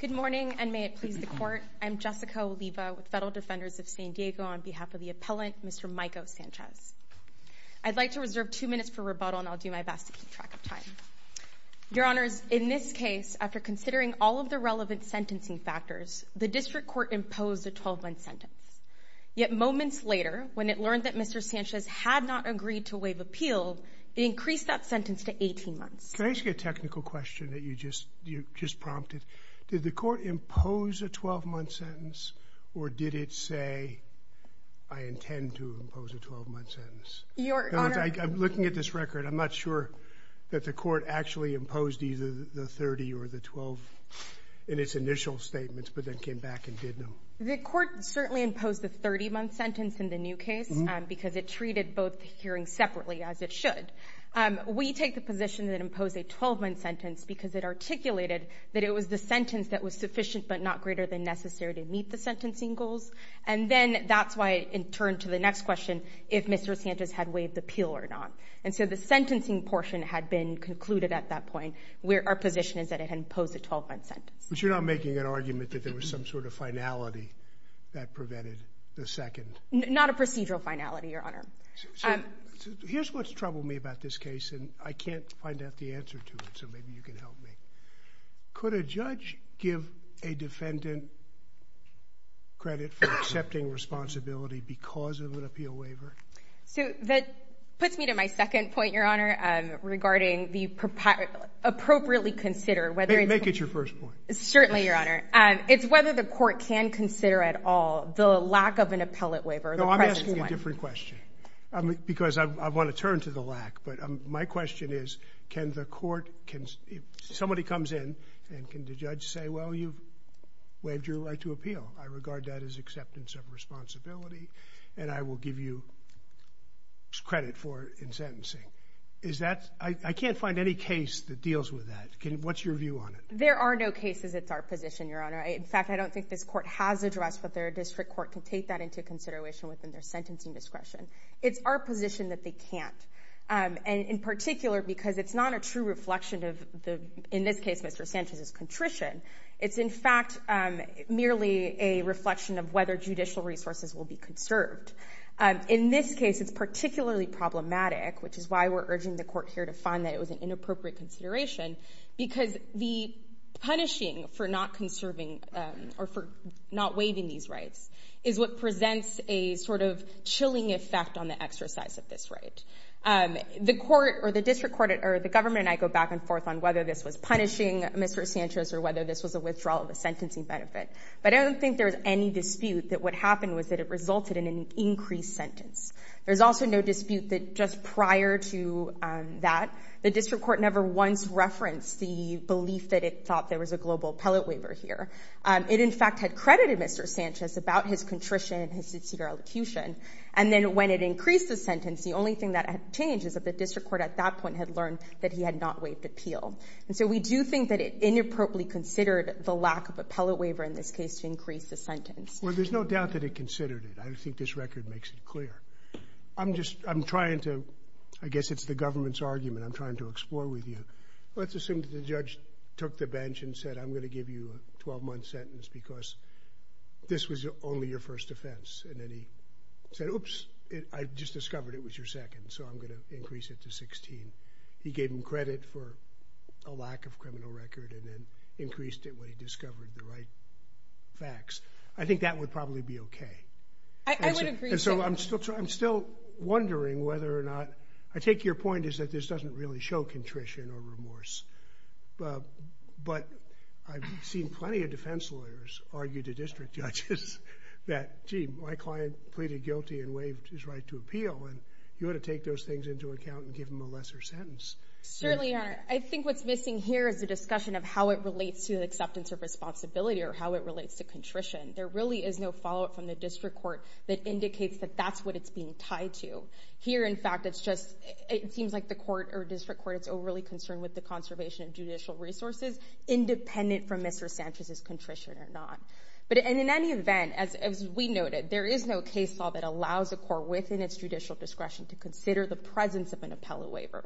Good morning, and may it please the court. I'm Jessica Oliva with Federal Defenders of San Diego on behalf of the appellant, Mr. Maico Sanchez. I'd like to reserve two minutes for rebuttal, and I'll do my best to keep track of time. Your Honors, in this case, after considering all of the relevant sentencing factors, the District Court imposed a 12-month sentence. Yet moments later, when it learned that Mr. Sanchez had not agreed to waive appeal, it increased that sentence to 18 months. Can I ask you a technical question that you just prompted? Did the court impose a 12-month sentence, or did it say, I intend to impose a 12-month sentence? Your Honor In other words, I'm looking at this record. I'm not sure that the court actually imposed either the 30 or the 12 in its initial statements, but then came back and did them. The court certainly imposed the 30-month sentence in the new case because it treated both hearings separately, as it should. We take the position that it imposed a 12-month sentence because it articulated that it was the sentence that was sufficient but not greater than necessary to meet the sentencing goals. And then that's why it turned to the next question, if Mr. Sanchez had waived appeal or not. And so the sentencing portion had been concluded at that point, where our position is that it had imposed a 12-month sentence. But you're not making an argument that there was some sort of finality that prevented the second? Not a procedural finality, Your Honor. So here's what's troubled me about this case, and I can't find out the answer to it, so maybe you can help me. Could a judge give a defendant credit for accepting responsibility because of an appeal waiver? So that puts me to my second point, Your Honor, regarding the appropriately consider whether it's Make it your first point. Certainly, Your Honor. It's whether the court can consider at all the lack of an appellate waiver. No, I'm asking a different question. Because I want to turn to the lack, but my question is, can the court, can somebody comes in and can the judge say, well, you've waived your right to appeal. I regard that as acceptance of responsibility, and I will give you credit for in sentencing. Is that, I can't find any case that deals with that. What's your view on it? There are no cases. It's our position, Your Honor. In fact, I don't think this court has addressed, but their district court can take that into consideration within their sentencing discretion. It's our position that they can't. And in particular, because it's not a true reflection of the, in this case, Mr. Sanchez's contrition. It's, in fact, merely a reflection of whether judicial resources will be conserved. In this case, it's particularly problematic, which is why we're urging the court here to find that it was an inappropriate consideration, because the punishing for not conserving or for not waiving these rights is what presents a sort effect on the exercise of this right. The court, or the district court, or the government, and I go back and forth on whether this was punishing Mr. Sanchez or whether this was a withdrawal of the sentencing benefit. But I don't think there was any dispute that what happened was that it resulted in an increased sentence. There's also no dispute that just prior to that, the district court never once referenced the belief that it thought there was a global appellate waiver here. It, in fact, had credited Mr. Sanchez about his contrition and his sincere elocution. And then when it increased the sentence, the only thing that had changed is that the district court at that point had learned that he had not waived appeal. And so we do think that it inappropriately considered the lack of appellate waiver in this case to increase the sentence. Well, there's no doubt that it considered it. I think this record makes it clear. I'm just, I'm trying to, I guess it's the government's argument I'm trying to explore with you. Let's assume that the judge took the bench and said, I'm going to give you a 12-month sentence because this was only your first offense. And then he said, oops, I've just discovered it was your second, so I'm going to increase it to 16. He gave him credit for a lack of criminal record and then increased it when he discovered the right facts. I think that would probably be okay. I would agree. And so I'm still trying, I'm still wondering whether or not, I take your point that this doesn't really show contrition or remorse. But I've seen plenty of defense lawyers argue to district judges that, gee, my client pleaded guilty and waived his right to appeal, and you ought to take those things into account and give him a lesser sentence. Certainly. I think what's missing here is the discussion of how it relates to acceptance of responsibility or how it relates to contrition. There really is no follow-up from the district court that indicates that that's what it's being tied to. Here, in fact, it's just, it seems like the court or district court, it's overly concerned with the conservation of judicial resources, independent from Mr. Sanchez's contrition or not. But in any event, as we noted, there is no case law that allows a court within its judicial discretion to consider the presence of an appellate waiver.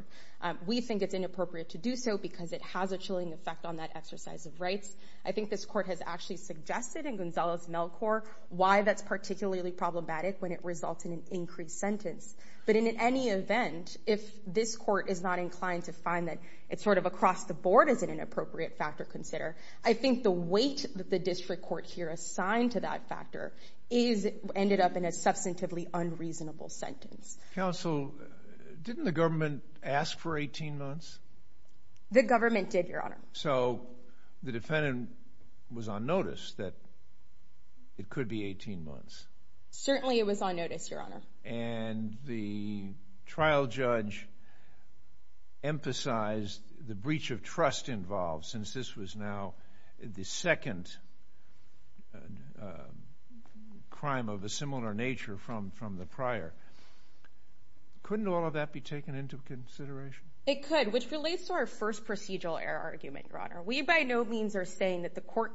We think it's inappropriate to do so because it has a chilling effect on that exercise of rights. I think this court has actually suggested in Gonzalo's mail court why that's particularly problematic when it results in an increased sentence. But in any event, if this court is not inclined to find that it's sort of across the board as an inappropriate factor to consider, I think the weight that the district court here assigned to that factor ended up in a substantively unreasonable sentence. Counsel, didn't the government ask for 18 months? The government did, Your Honor. So the defendant was on notice that it could be 18 months. Certainly it was on notice, Your Honor. And the trial judge emphasized the breach of trust involved since this was now the second crime of a similar nature from the prior. Couldn't all of that be taken into consideration? It could, which relates to our first procedural error argument, Your Honor. We by no means are to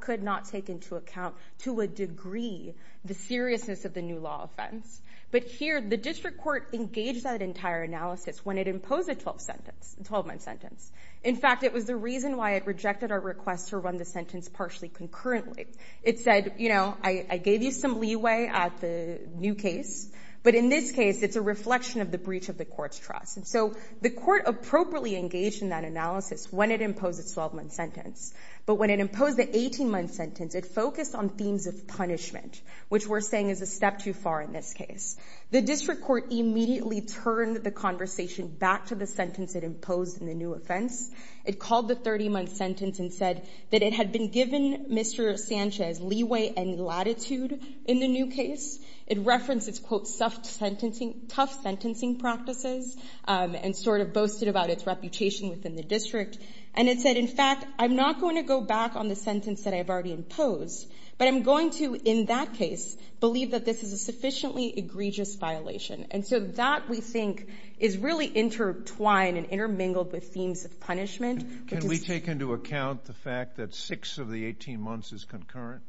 a degree the seriousness of the new law offense. But here, the district court engaged that entire analysis when it imposed a 12-month sentence. In fact, it was the reason why it rejected our request to run the sentence partially concurrently. It said, I gave you some leeway at the new case. But in this case, it's a reflection of the breach of the court's trust. And so the court appropriately engaged in that analysis when it imposed its 12-month sentence. But when it imposed the 18-month sentence, it focused on themes of punishment, which we're saying is a step too far in this case. The district court immediately turned the conversation back to the sentence it imposed in the new offense. It called the 30-month sentence and said that it had been given Mr. Sanchez leeway and latitude in the new case. It referenced its, quote, tough sentencing practices and sort of boasted about its reputation within the district. And it said, in fact, I'm not going to go back on the sentence that I've already imposed. But I'm going to, in that case, believe that this is a sufficiently egregious violation. And so that, we think, is really intertwined and intermingled with themes of punishment. Can we take into account the fact that six of the 18 months is concurrent?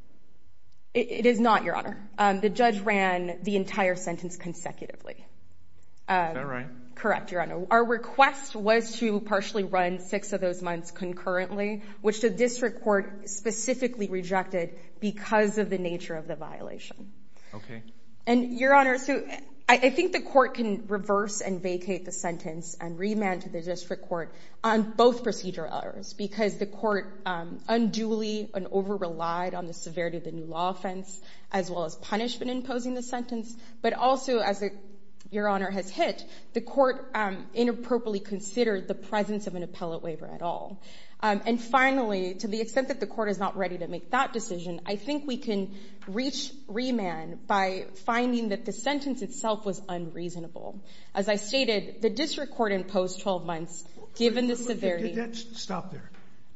It is not, Your Honor. The judge ran the entire sentence consecutively. Is that right? Correct, Your Honor. Our request was to partially run six of those months concurrently, which the district court specifically rejected because of the nature of the violation. And, Your Honor, I think the court can reverse and vacate the sentence and remand to the district court on both procedure errors because the court unduly and over-relied on the severity of the new law offense, as well as punishment in imposing the sentence. But also, as Your Honor has hit, the court inappropriately considered the presence of an appellate waiver at all. And finally, to the extent that the court is not ready to make that decision, I think we can reach remand by finding that the sentence itself was unreasonable. As I stated, the district court imposed 12 months, given the severity. Stop there.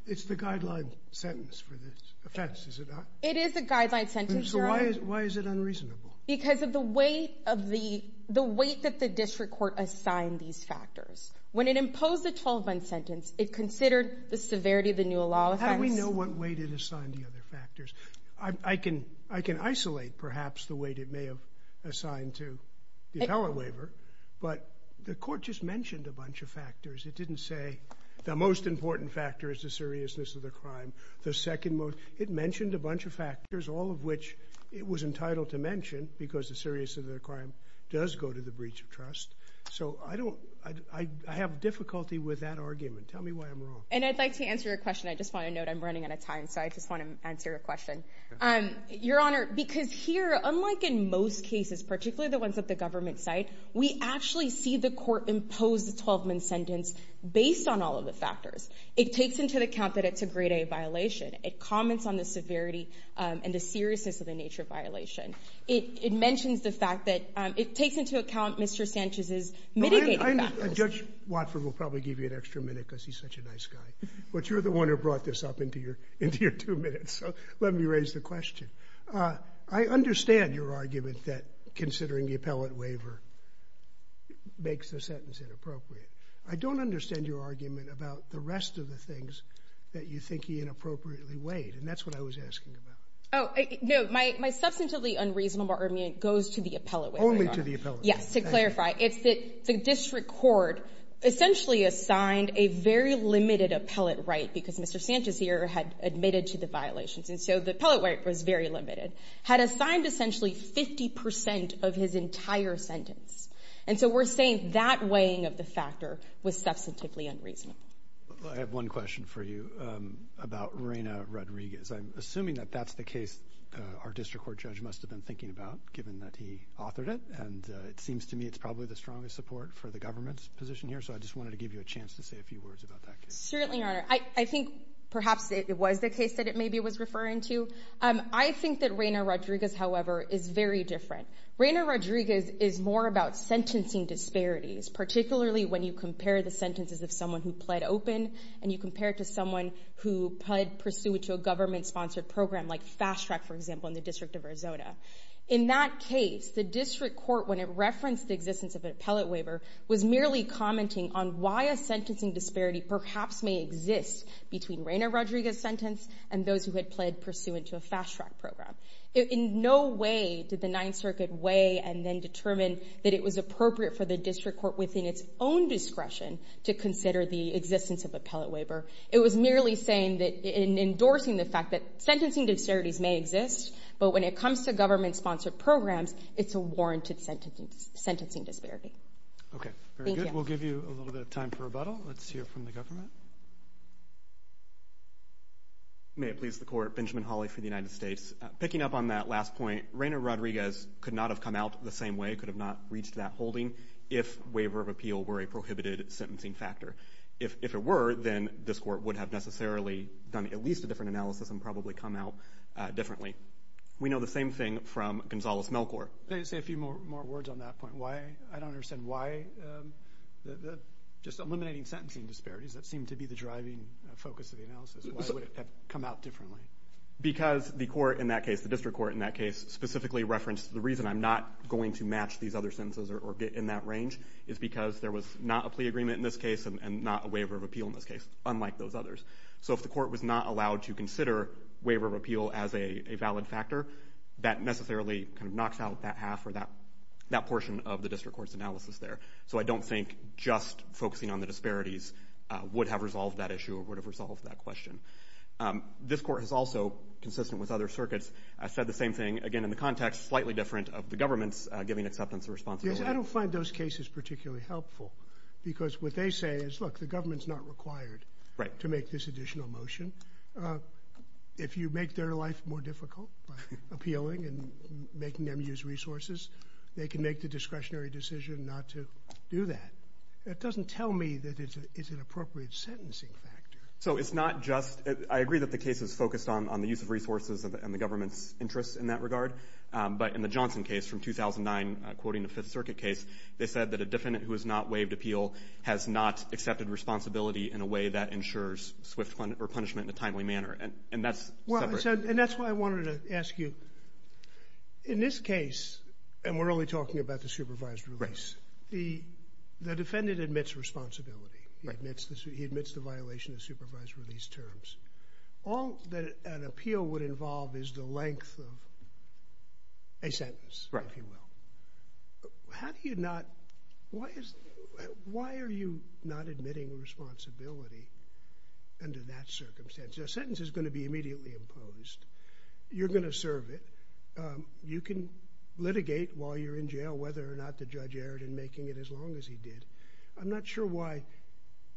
It's the guideline sentence for this offense, is it not? It is the guideline sentence, Your Honor. So why is it unreasonable? Because of the weight that the district court assigned these factors. When it imposed the 12 month sentence, it considered the severity of the new law offense. How do we know what weight it assigned the other factors? I can isolate, perhaps, the weight it may have assigned to the appellate waiver, but the court just mentioned a bunch of factors. It didn't say the most important factor is the seriousness of the crime. It mentioned a bunch of factors, all of which it was entitled to mention, because the seriousness of the crime does go to the breach of trust. So I have difficulty with that argument. Tell me why I'm wrong. And I'd like to answer your question. I just want to note I'm running out of time, so I just want to answer your question. Your Honor, because here, unlike in most cases, particularly the ones that the government cite, we actually see the court impose the 12 month sentence based on all of the factors. It takes into account that it's a grade A violation. It comments on the severity and the seriousness of the nature of violation. It mentions the fact that it takes into account Mr. Sanchez's mitigating factors. Judge Watford will probably give you an extra minute because he's such a nice guy. But you're the one who brought this up into your two minutes, so let me raise the question. I understand your argument that considering the appellate waiver makes the sentence inappropriate. I don't understand your argument about the rest of the things that you think he inappropriately weighed. And that's what I was asking about. Oh, no. My substantively unreasonable argument goes to the appellate waiver. Only to the appellate waiver. Yes. To clarify, it's that the district court essentially assigned a very limited appellate right because Mr. Sanchez here had admitted to the violations. And so the appellate right was very limited. Had assigned essentially 50 percent of his entire sentence. And so we're saying that weighing of the factor was substantively unreasonable. I have one question for you about Reyna Rodriguez. I'm assuming that that's the case our district court judge must have been thinking about, given that he authored it. And it seems to me it's probably the strongest support for the government's position here. So I just wanted to give you a chance to say a few words about that case. Certainly, Your Honor. I think perhaps it was the case that it maybe was referring to. I think that Reyna Rodriguez, however, is very different. Reyna Rodriguez is more about and you compare it to someone who pled pursuant to a government-sponsored program like Fast Track, for example, in the District of Arizona. In that case, the district court, when it referenced the existence of an appellate waiver, was merely commenting on why a sentencing disparity perhaps may exist between Reyna Rodriguez's sentence and those who had pled pursuant to a Fast Track program. In no way did the Ninth Circuit weigh and then determine that it was appropriate for the district court within its own discretion to consider the existence of an appellate waiver. It was merely saying that in endorsing the fact that sentencing disparities may exist, but when it comes to government-sponsored programs, it's a warranted sentencing disparity. Okay. Very good. We'll give you a little bit of time for rebuttal. Let's hear from the government. May it please the Court. Benjamin Hawley for the United States. Picking up on that last point, Reyna Rodriguez could not have come out the same way, could have not reached that factor. If it were, then this Court would have necessarily done at least a different analysis and probably come out differently. We know the same thing from Gonzales-Melkor. Can I just say a few more words on that point? I don't understand why, just eliminating sentencing disparities, that seemed to be the driving focus of the analysis. Why would it have come out differently? Because the court in that case, the district court in that case, specifically referenced the reason I'm not going to match these other sentences or get in that range is because there was not a plea agreement in this case and not a waiver of appeal in this case, unlike those others. So if the court was not allowed to consider waiver of appeal as a valid factor, that necessarily kind of knocks out that half or that portion of the district court's analysis there. So I don't think just focusing on the disparities would have resolved that issue or would have resolved that question. This Court has also, consistent with other circuits, said the same thing, again, in the context slightly different of the government's giving acceptance of responsibility. I don't find those cases particularly helpful because what they say is, look, the government's not required to make this additional motion. If you make their life more difficult by appealing and making them use resources, they can make the discretionary decision not to do that. It doesn't tell me that it's an appropriate sentencing factor. So it's not just, I agree that the case is focused on the use of resources and the government's in that regard. But in the Johnson case from 2009, quoting the Fifth Circuit case, they said that a defendant who has not waived appeal has not accepted responsibility in a way that ensures swift punishment in a timely manner. And that's separate. Well, and that's what I wanted to ask you. In this case, and we're only talking about the supervised release, the defendant admits responsibility. He admits the violation of supervised release terms. All that an appeal would involve is the length of a sentence, if you will. Why are you not admitting responsibility under that circumstance? A sentence is going to be immediately imposed. You're going to serve it. You can litigate while you're in jail whether or not the judge erred in making it as long as he did. I'm not sure why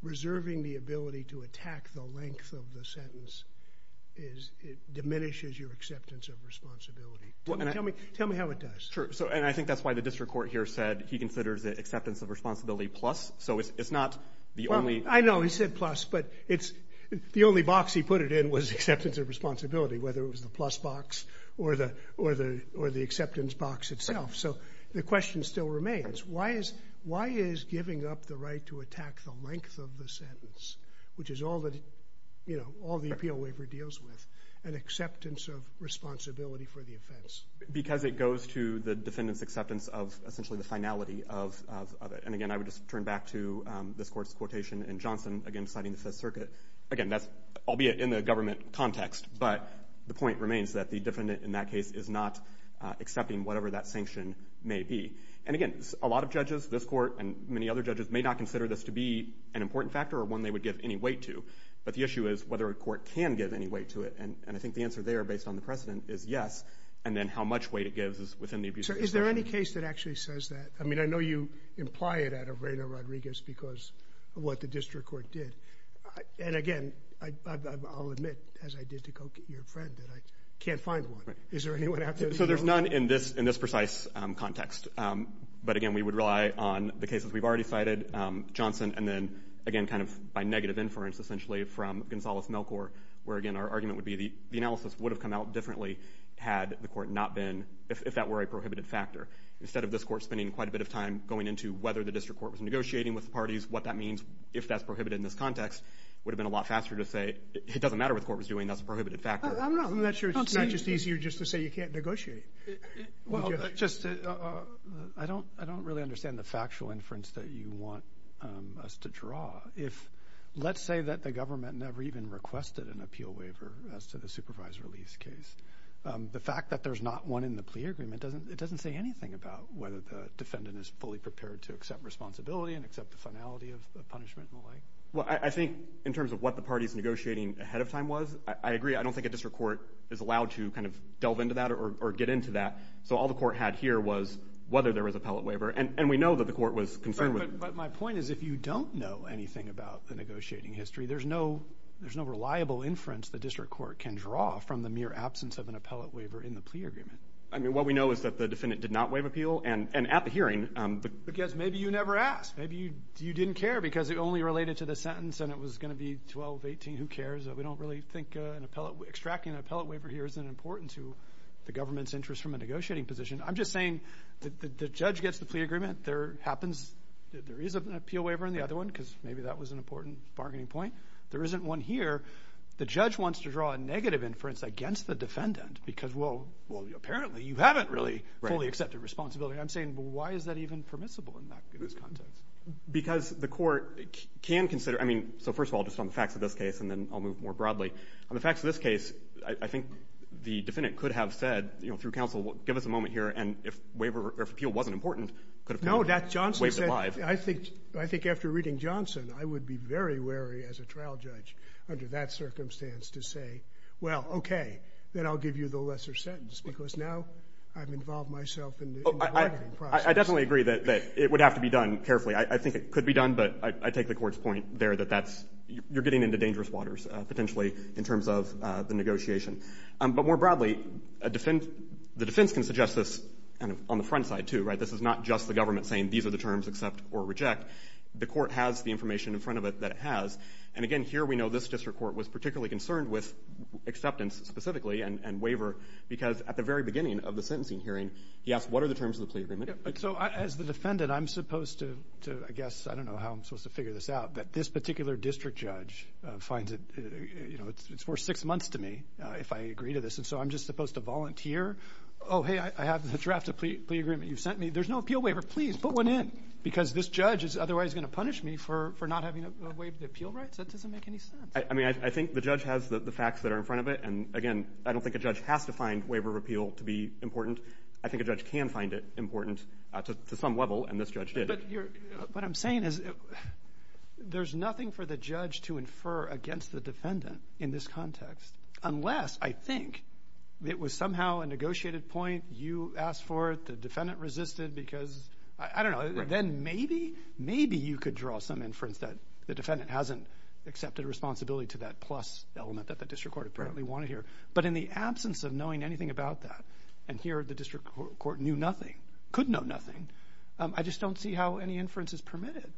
length of the sentence diminishes your acceptance of responsibility. Tell me how it does. Sure. And I think that's why the district court here said he considers it acceptance of responsibility plus. So it's not the only... I know he said plus, but the only box he put it in was acceptance of responsibility, whether it was the plus box or the acceptance box itself. So the question still remains. Why is giving up the right to attack the length of the sentence, which is all the appeal waiver deals with, an acceptance of responsibility for the offense? Because it goes to the defendant's acceptance of essentially the finality of it. And again, I would just turn back to this court's quotation in Johnson, again, citing the Fifth Circuit. Again, that's albeit in the government context, but the point remains that the defendant in that may be. And again, a lot of judges, this court and many other judges may not consider this to be an important factor or one they would give any weight to. But the issue is whether a court can give any weight to it. And I think the answer there based on the precedent is yes. And then how much weight it gives us within the... Is there any case that actually says that? I mean, I know you imply it out of Reyna Rodriguez because of what the district court did. And again, I'll admit as I did to go get your friend that I can't find one. Is there anyone So there's none in this precise context. But again, we would rely on the cases we've already cited, Johnson, and then again, kind of by negative inference, essentially from Gonzalez-Melkor, where again, our argument would be the analysis would have come out differently had the court not been, if that were a prohibited factor. Instead of this court spending quite a bit of time going into whether the district court was negotiating with the parties, what that means, if that's prohibited in this context, would have been a lot faster to say, it doesn't matter what the court was doing, that's a prohibited factor. I'm not sure it's not just easier just to say you can't negotiate. I don't really understand the factual inference that you want us to draw. Let's say that the government never even requested an appeal waiver as to the supervisor release case. The fact that there's not one in the plea agreement, it doesn't say anything about whether the defendant is fully prepared to accept responsibility and accept the finality of punishment and the like. Well, I think in terms of what the is allowed to kind of delve into that or get into that. So all the court had here was whether there was appellate waiver. And we know that the court was concerned with it. But my point is, if you don't know anything about the negotiating history, there's no reliable inference the district court can draw from the mere absence of an appellate waiver in the plea agreement. I mean, what we know is that the defendant did not waive appeal. And at the hearing, because maybe you never asked, maybe you didn't care because it only related to the sentence and it was going to be 1218, who cares? We don't really think extracting an appellate waiver here isn't important to the government's interest from a negotiating position. I'm just saying that the judge gets the plea agreement. There happens, there is an appeal waiver in the other one because maybe that was an important bargaining point. There isn't one here. The judge wants to draw a negative inference against the defendant because, well, apparently you haven't really fully accepted responsibility. I'm saying, why is that even permissible in this context? Because the court can consider, I mean, first of all, just on the facts of this case, and then I'll move more broadly. On the facts of this case, I think the defendant could have said, you know, through counsel, give us a moment here, and if waiver or if appeal wasn't important, could have waived it live. I think after reading Johnson, I would be very wary as a trial judge under that circumstance to say, well, okay, then I'll give you the lesser sentence, because now I've involved myself in the bargaining process. I definitely agree that it would have to be done carefully. I think it could be done, but I take the Court's point there that that's you're getting into dangerous waters, potentially, in terms of the negotiation. But more broadly, the defense can suggest this kind of on the front side, too, right? This is not just the government saying these are the terms, accept or reject. The Court has the information in front of it that it has. And again, here we know this district court was particularly concerned with acceptance specifically and waiver, because at the very beginning of the sentencing hearing, he asked, what are the terms of the plea agreement? So as the defendant, I'm supposed to, I guess, I don't know how I'm supposed to figure this out, but this particular district judge finds it, you know, it's worth six months to me if I agree to this. And so I'm just supposed to volunteer. Oh, hey, I have the draft of the plea agreement you sent me. There's no appeal waiver. Please put one in, because this judge is otherwise going to punish me for not having waived the appeal rights. That doesn't make any sense. I mean, I think the judge has the facts that are in front of it. And again, I don't think a judge has to find waiver of appeal to be important. I think a judge can find it important to some level, and this judge did. What I'm saying is there's nothing for the judge to infer against the defendant in this context, unless, I think, it was somehow a negotiated point. You asked for it. The defendant resisted because, I don't know, then maybe, maybe you could draw some inference that the defendant hasn't accepted responsibility to that plus element that the district court apparently wanted here. But in the absence of knowing anything about that, and here the inference is permitted.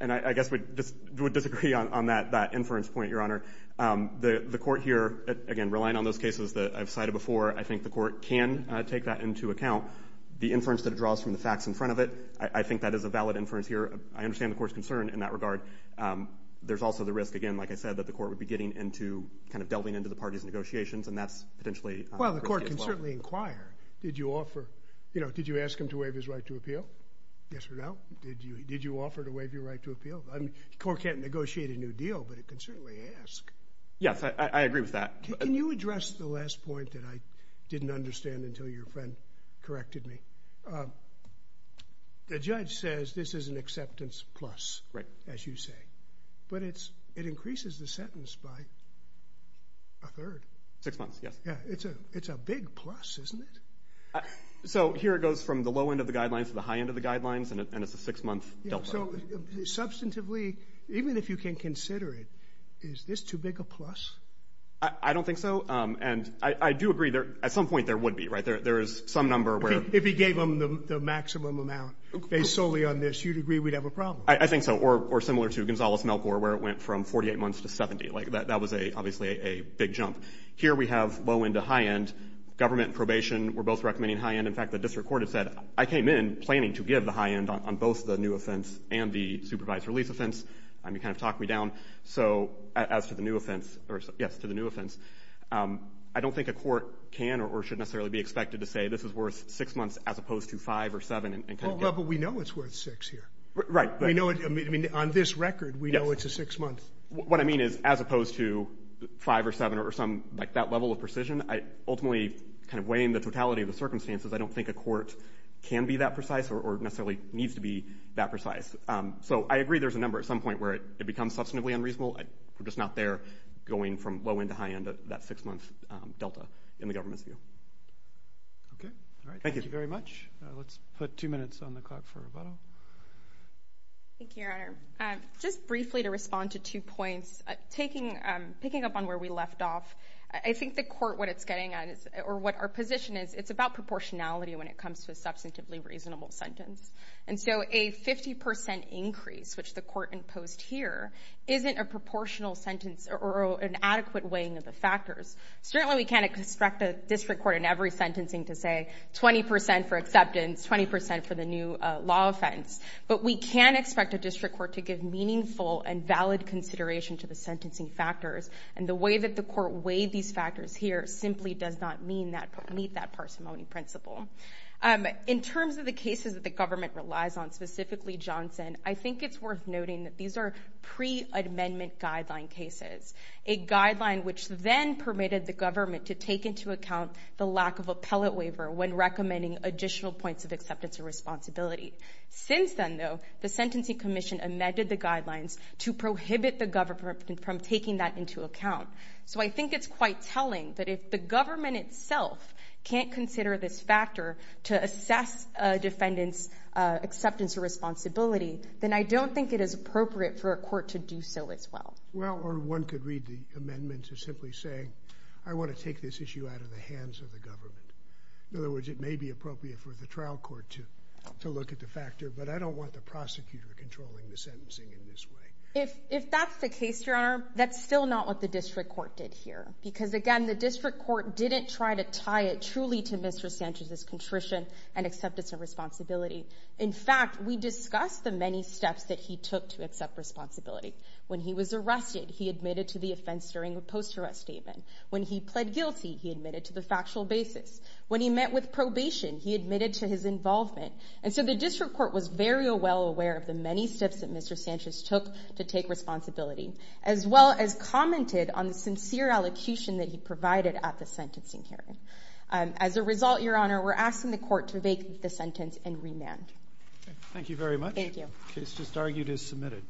And I guess we would disagree on that inference point, Your Honor. The court here, again, relying on those cases that I've cited before, I think the court can take that into account. The inference that it draws from the facts in front of it, I think that is a valid inference here. I understand the court's concern in that regard. There's also the risk, again, like I said, that the court would be getting into, kind of delving into the parties' negotiations, and that's potentially risky as well. Well, the court can certainly inquire. Did you offer, you know, did you ask him to waive his right to appeal? Yes or no? Did you offer to waive your right to appeal? I mean, the court can't negotiate a new deal, but it can certainly ask. Yes, I agree with that. Can you address the last point that I didn't understand until your friend corrected me? The judge says this is an acceptance plus, as you say. But it increases the sentence by a third. Six months, yes. Yeah, it's a big plus, isn't it? So here it goes from the low end of the guidelines to the high end of the guidelines, and it's a six-month delta. So substantively, even if you can consider it, is this too big a plus? I don't think so. And I do agree there at some point there would be, right? There is some number where — If he gave them the maximum amount based solely on this, you'd agree we'd have a problem? I think so, or similar to Gonzales-Melkor, where it went from 48 months to 70. Like, that was obviously a big jump. Here we have low end to high end. Government probation, we're both recommending high end. In fact, the district court has said, I came in planning to give the high end on both the new offense and the supervised release offense. You kind of talked me down. So as to the new offense — yes, to the new offense, I don't think a court can or should necessarily be expected to say this is worth six months as opposed to five or seven and kind of get — Well, but we know it's worth six here. Right. We know — I mean, on this record, we know it's a six-month. What I mean is, as opposed to five or seven or some — like, that level of precision, ultimately kind of weighing the totality of the circumstances, I don't think a court can be that precise or necessarily needs to be that precise. So I agree there's a number at some point where it becomes substantively unreasonable. We're just not there going from low end to high end at that six-month delta in the government's view. Okay. All right. Thank you. Thank you very much. Let's put two minutes on the clock for rebuttal. Thank you, Your Honor. Just briefly to respond to two points. Picking up on where we left off, I think the court — what it's getting at is — or what our position is, it's about proportionality when it comes to a substantively reasonable sentence. And so a 50 percent increase, which the court imposed here, isn't a proportional sentence or an adequate weighing of the factors. Certainly, we can't expect a district court in every sentencing to say 20 percent for acceptance, 20 percent for the new law offense. But we can expect a district court to give meaningful and valid consideration to the these factors here simply does not meet that parsimony principle. In terms of the cases that the government relies on, specifically Johnson, I think it's worth noting that these are pre-amendment guideline cases, a guideline which then permitted the government to take into account the lack of appellate waiver when recommending additional points of acceptance or responsibility. Since then, though, the Sentencing Commission amended the guidelines to prohibit the government from taking that into account. So I think it's quite telling that if the government itself can't consider this factor to assess a defendant's acceptance or responsibility, then I don't think it is appropriate for a court to do so as well. Well, or one could read the amendment to simply say, I want to take this issue out of the hands of the government. In other words, it may be appropriate for the trial court to look at the factor, but I don't want the prosecutor controlling the sentencing in this way. If that's the case, Your Honor, that's still not what the district court did here. Because again, the district court didn't try to tie it truly to Mr. Sanchez's contrition and acceptance of responsibility. In fact, we discussed the many steps that he took to accept responsibility. When he was arrested, he admitted to the offense during a post-arrest statement. When he pled guilty, he admitted to the factual basis. When he met with probation, he admitted to his involvement. And so the district court was very well aware of the many steps that Mr. Sanchez took to take responsibility, as well as commented on the sincere allocution that he provided at the sentencing hearing. As a result, Your Honor, we're asking the court to make the sentence and remand. Thank you very much. Thank you. The case just argued is submitted.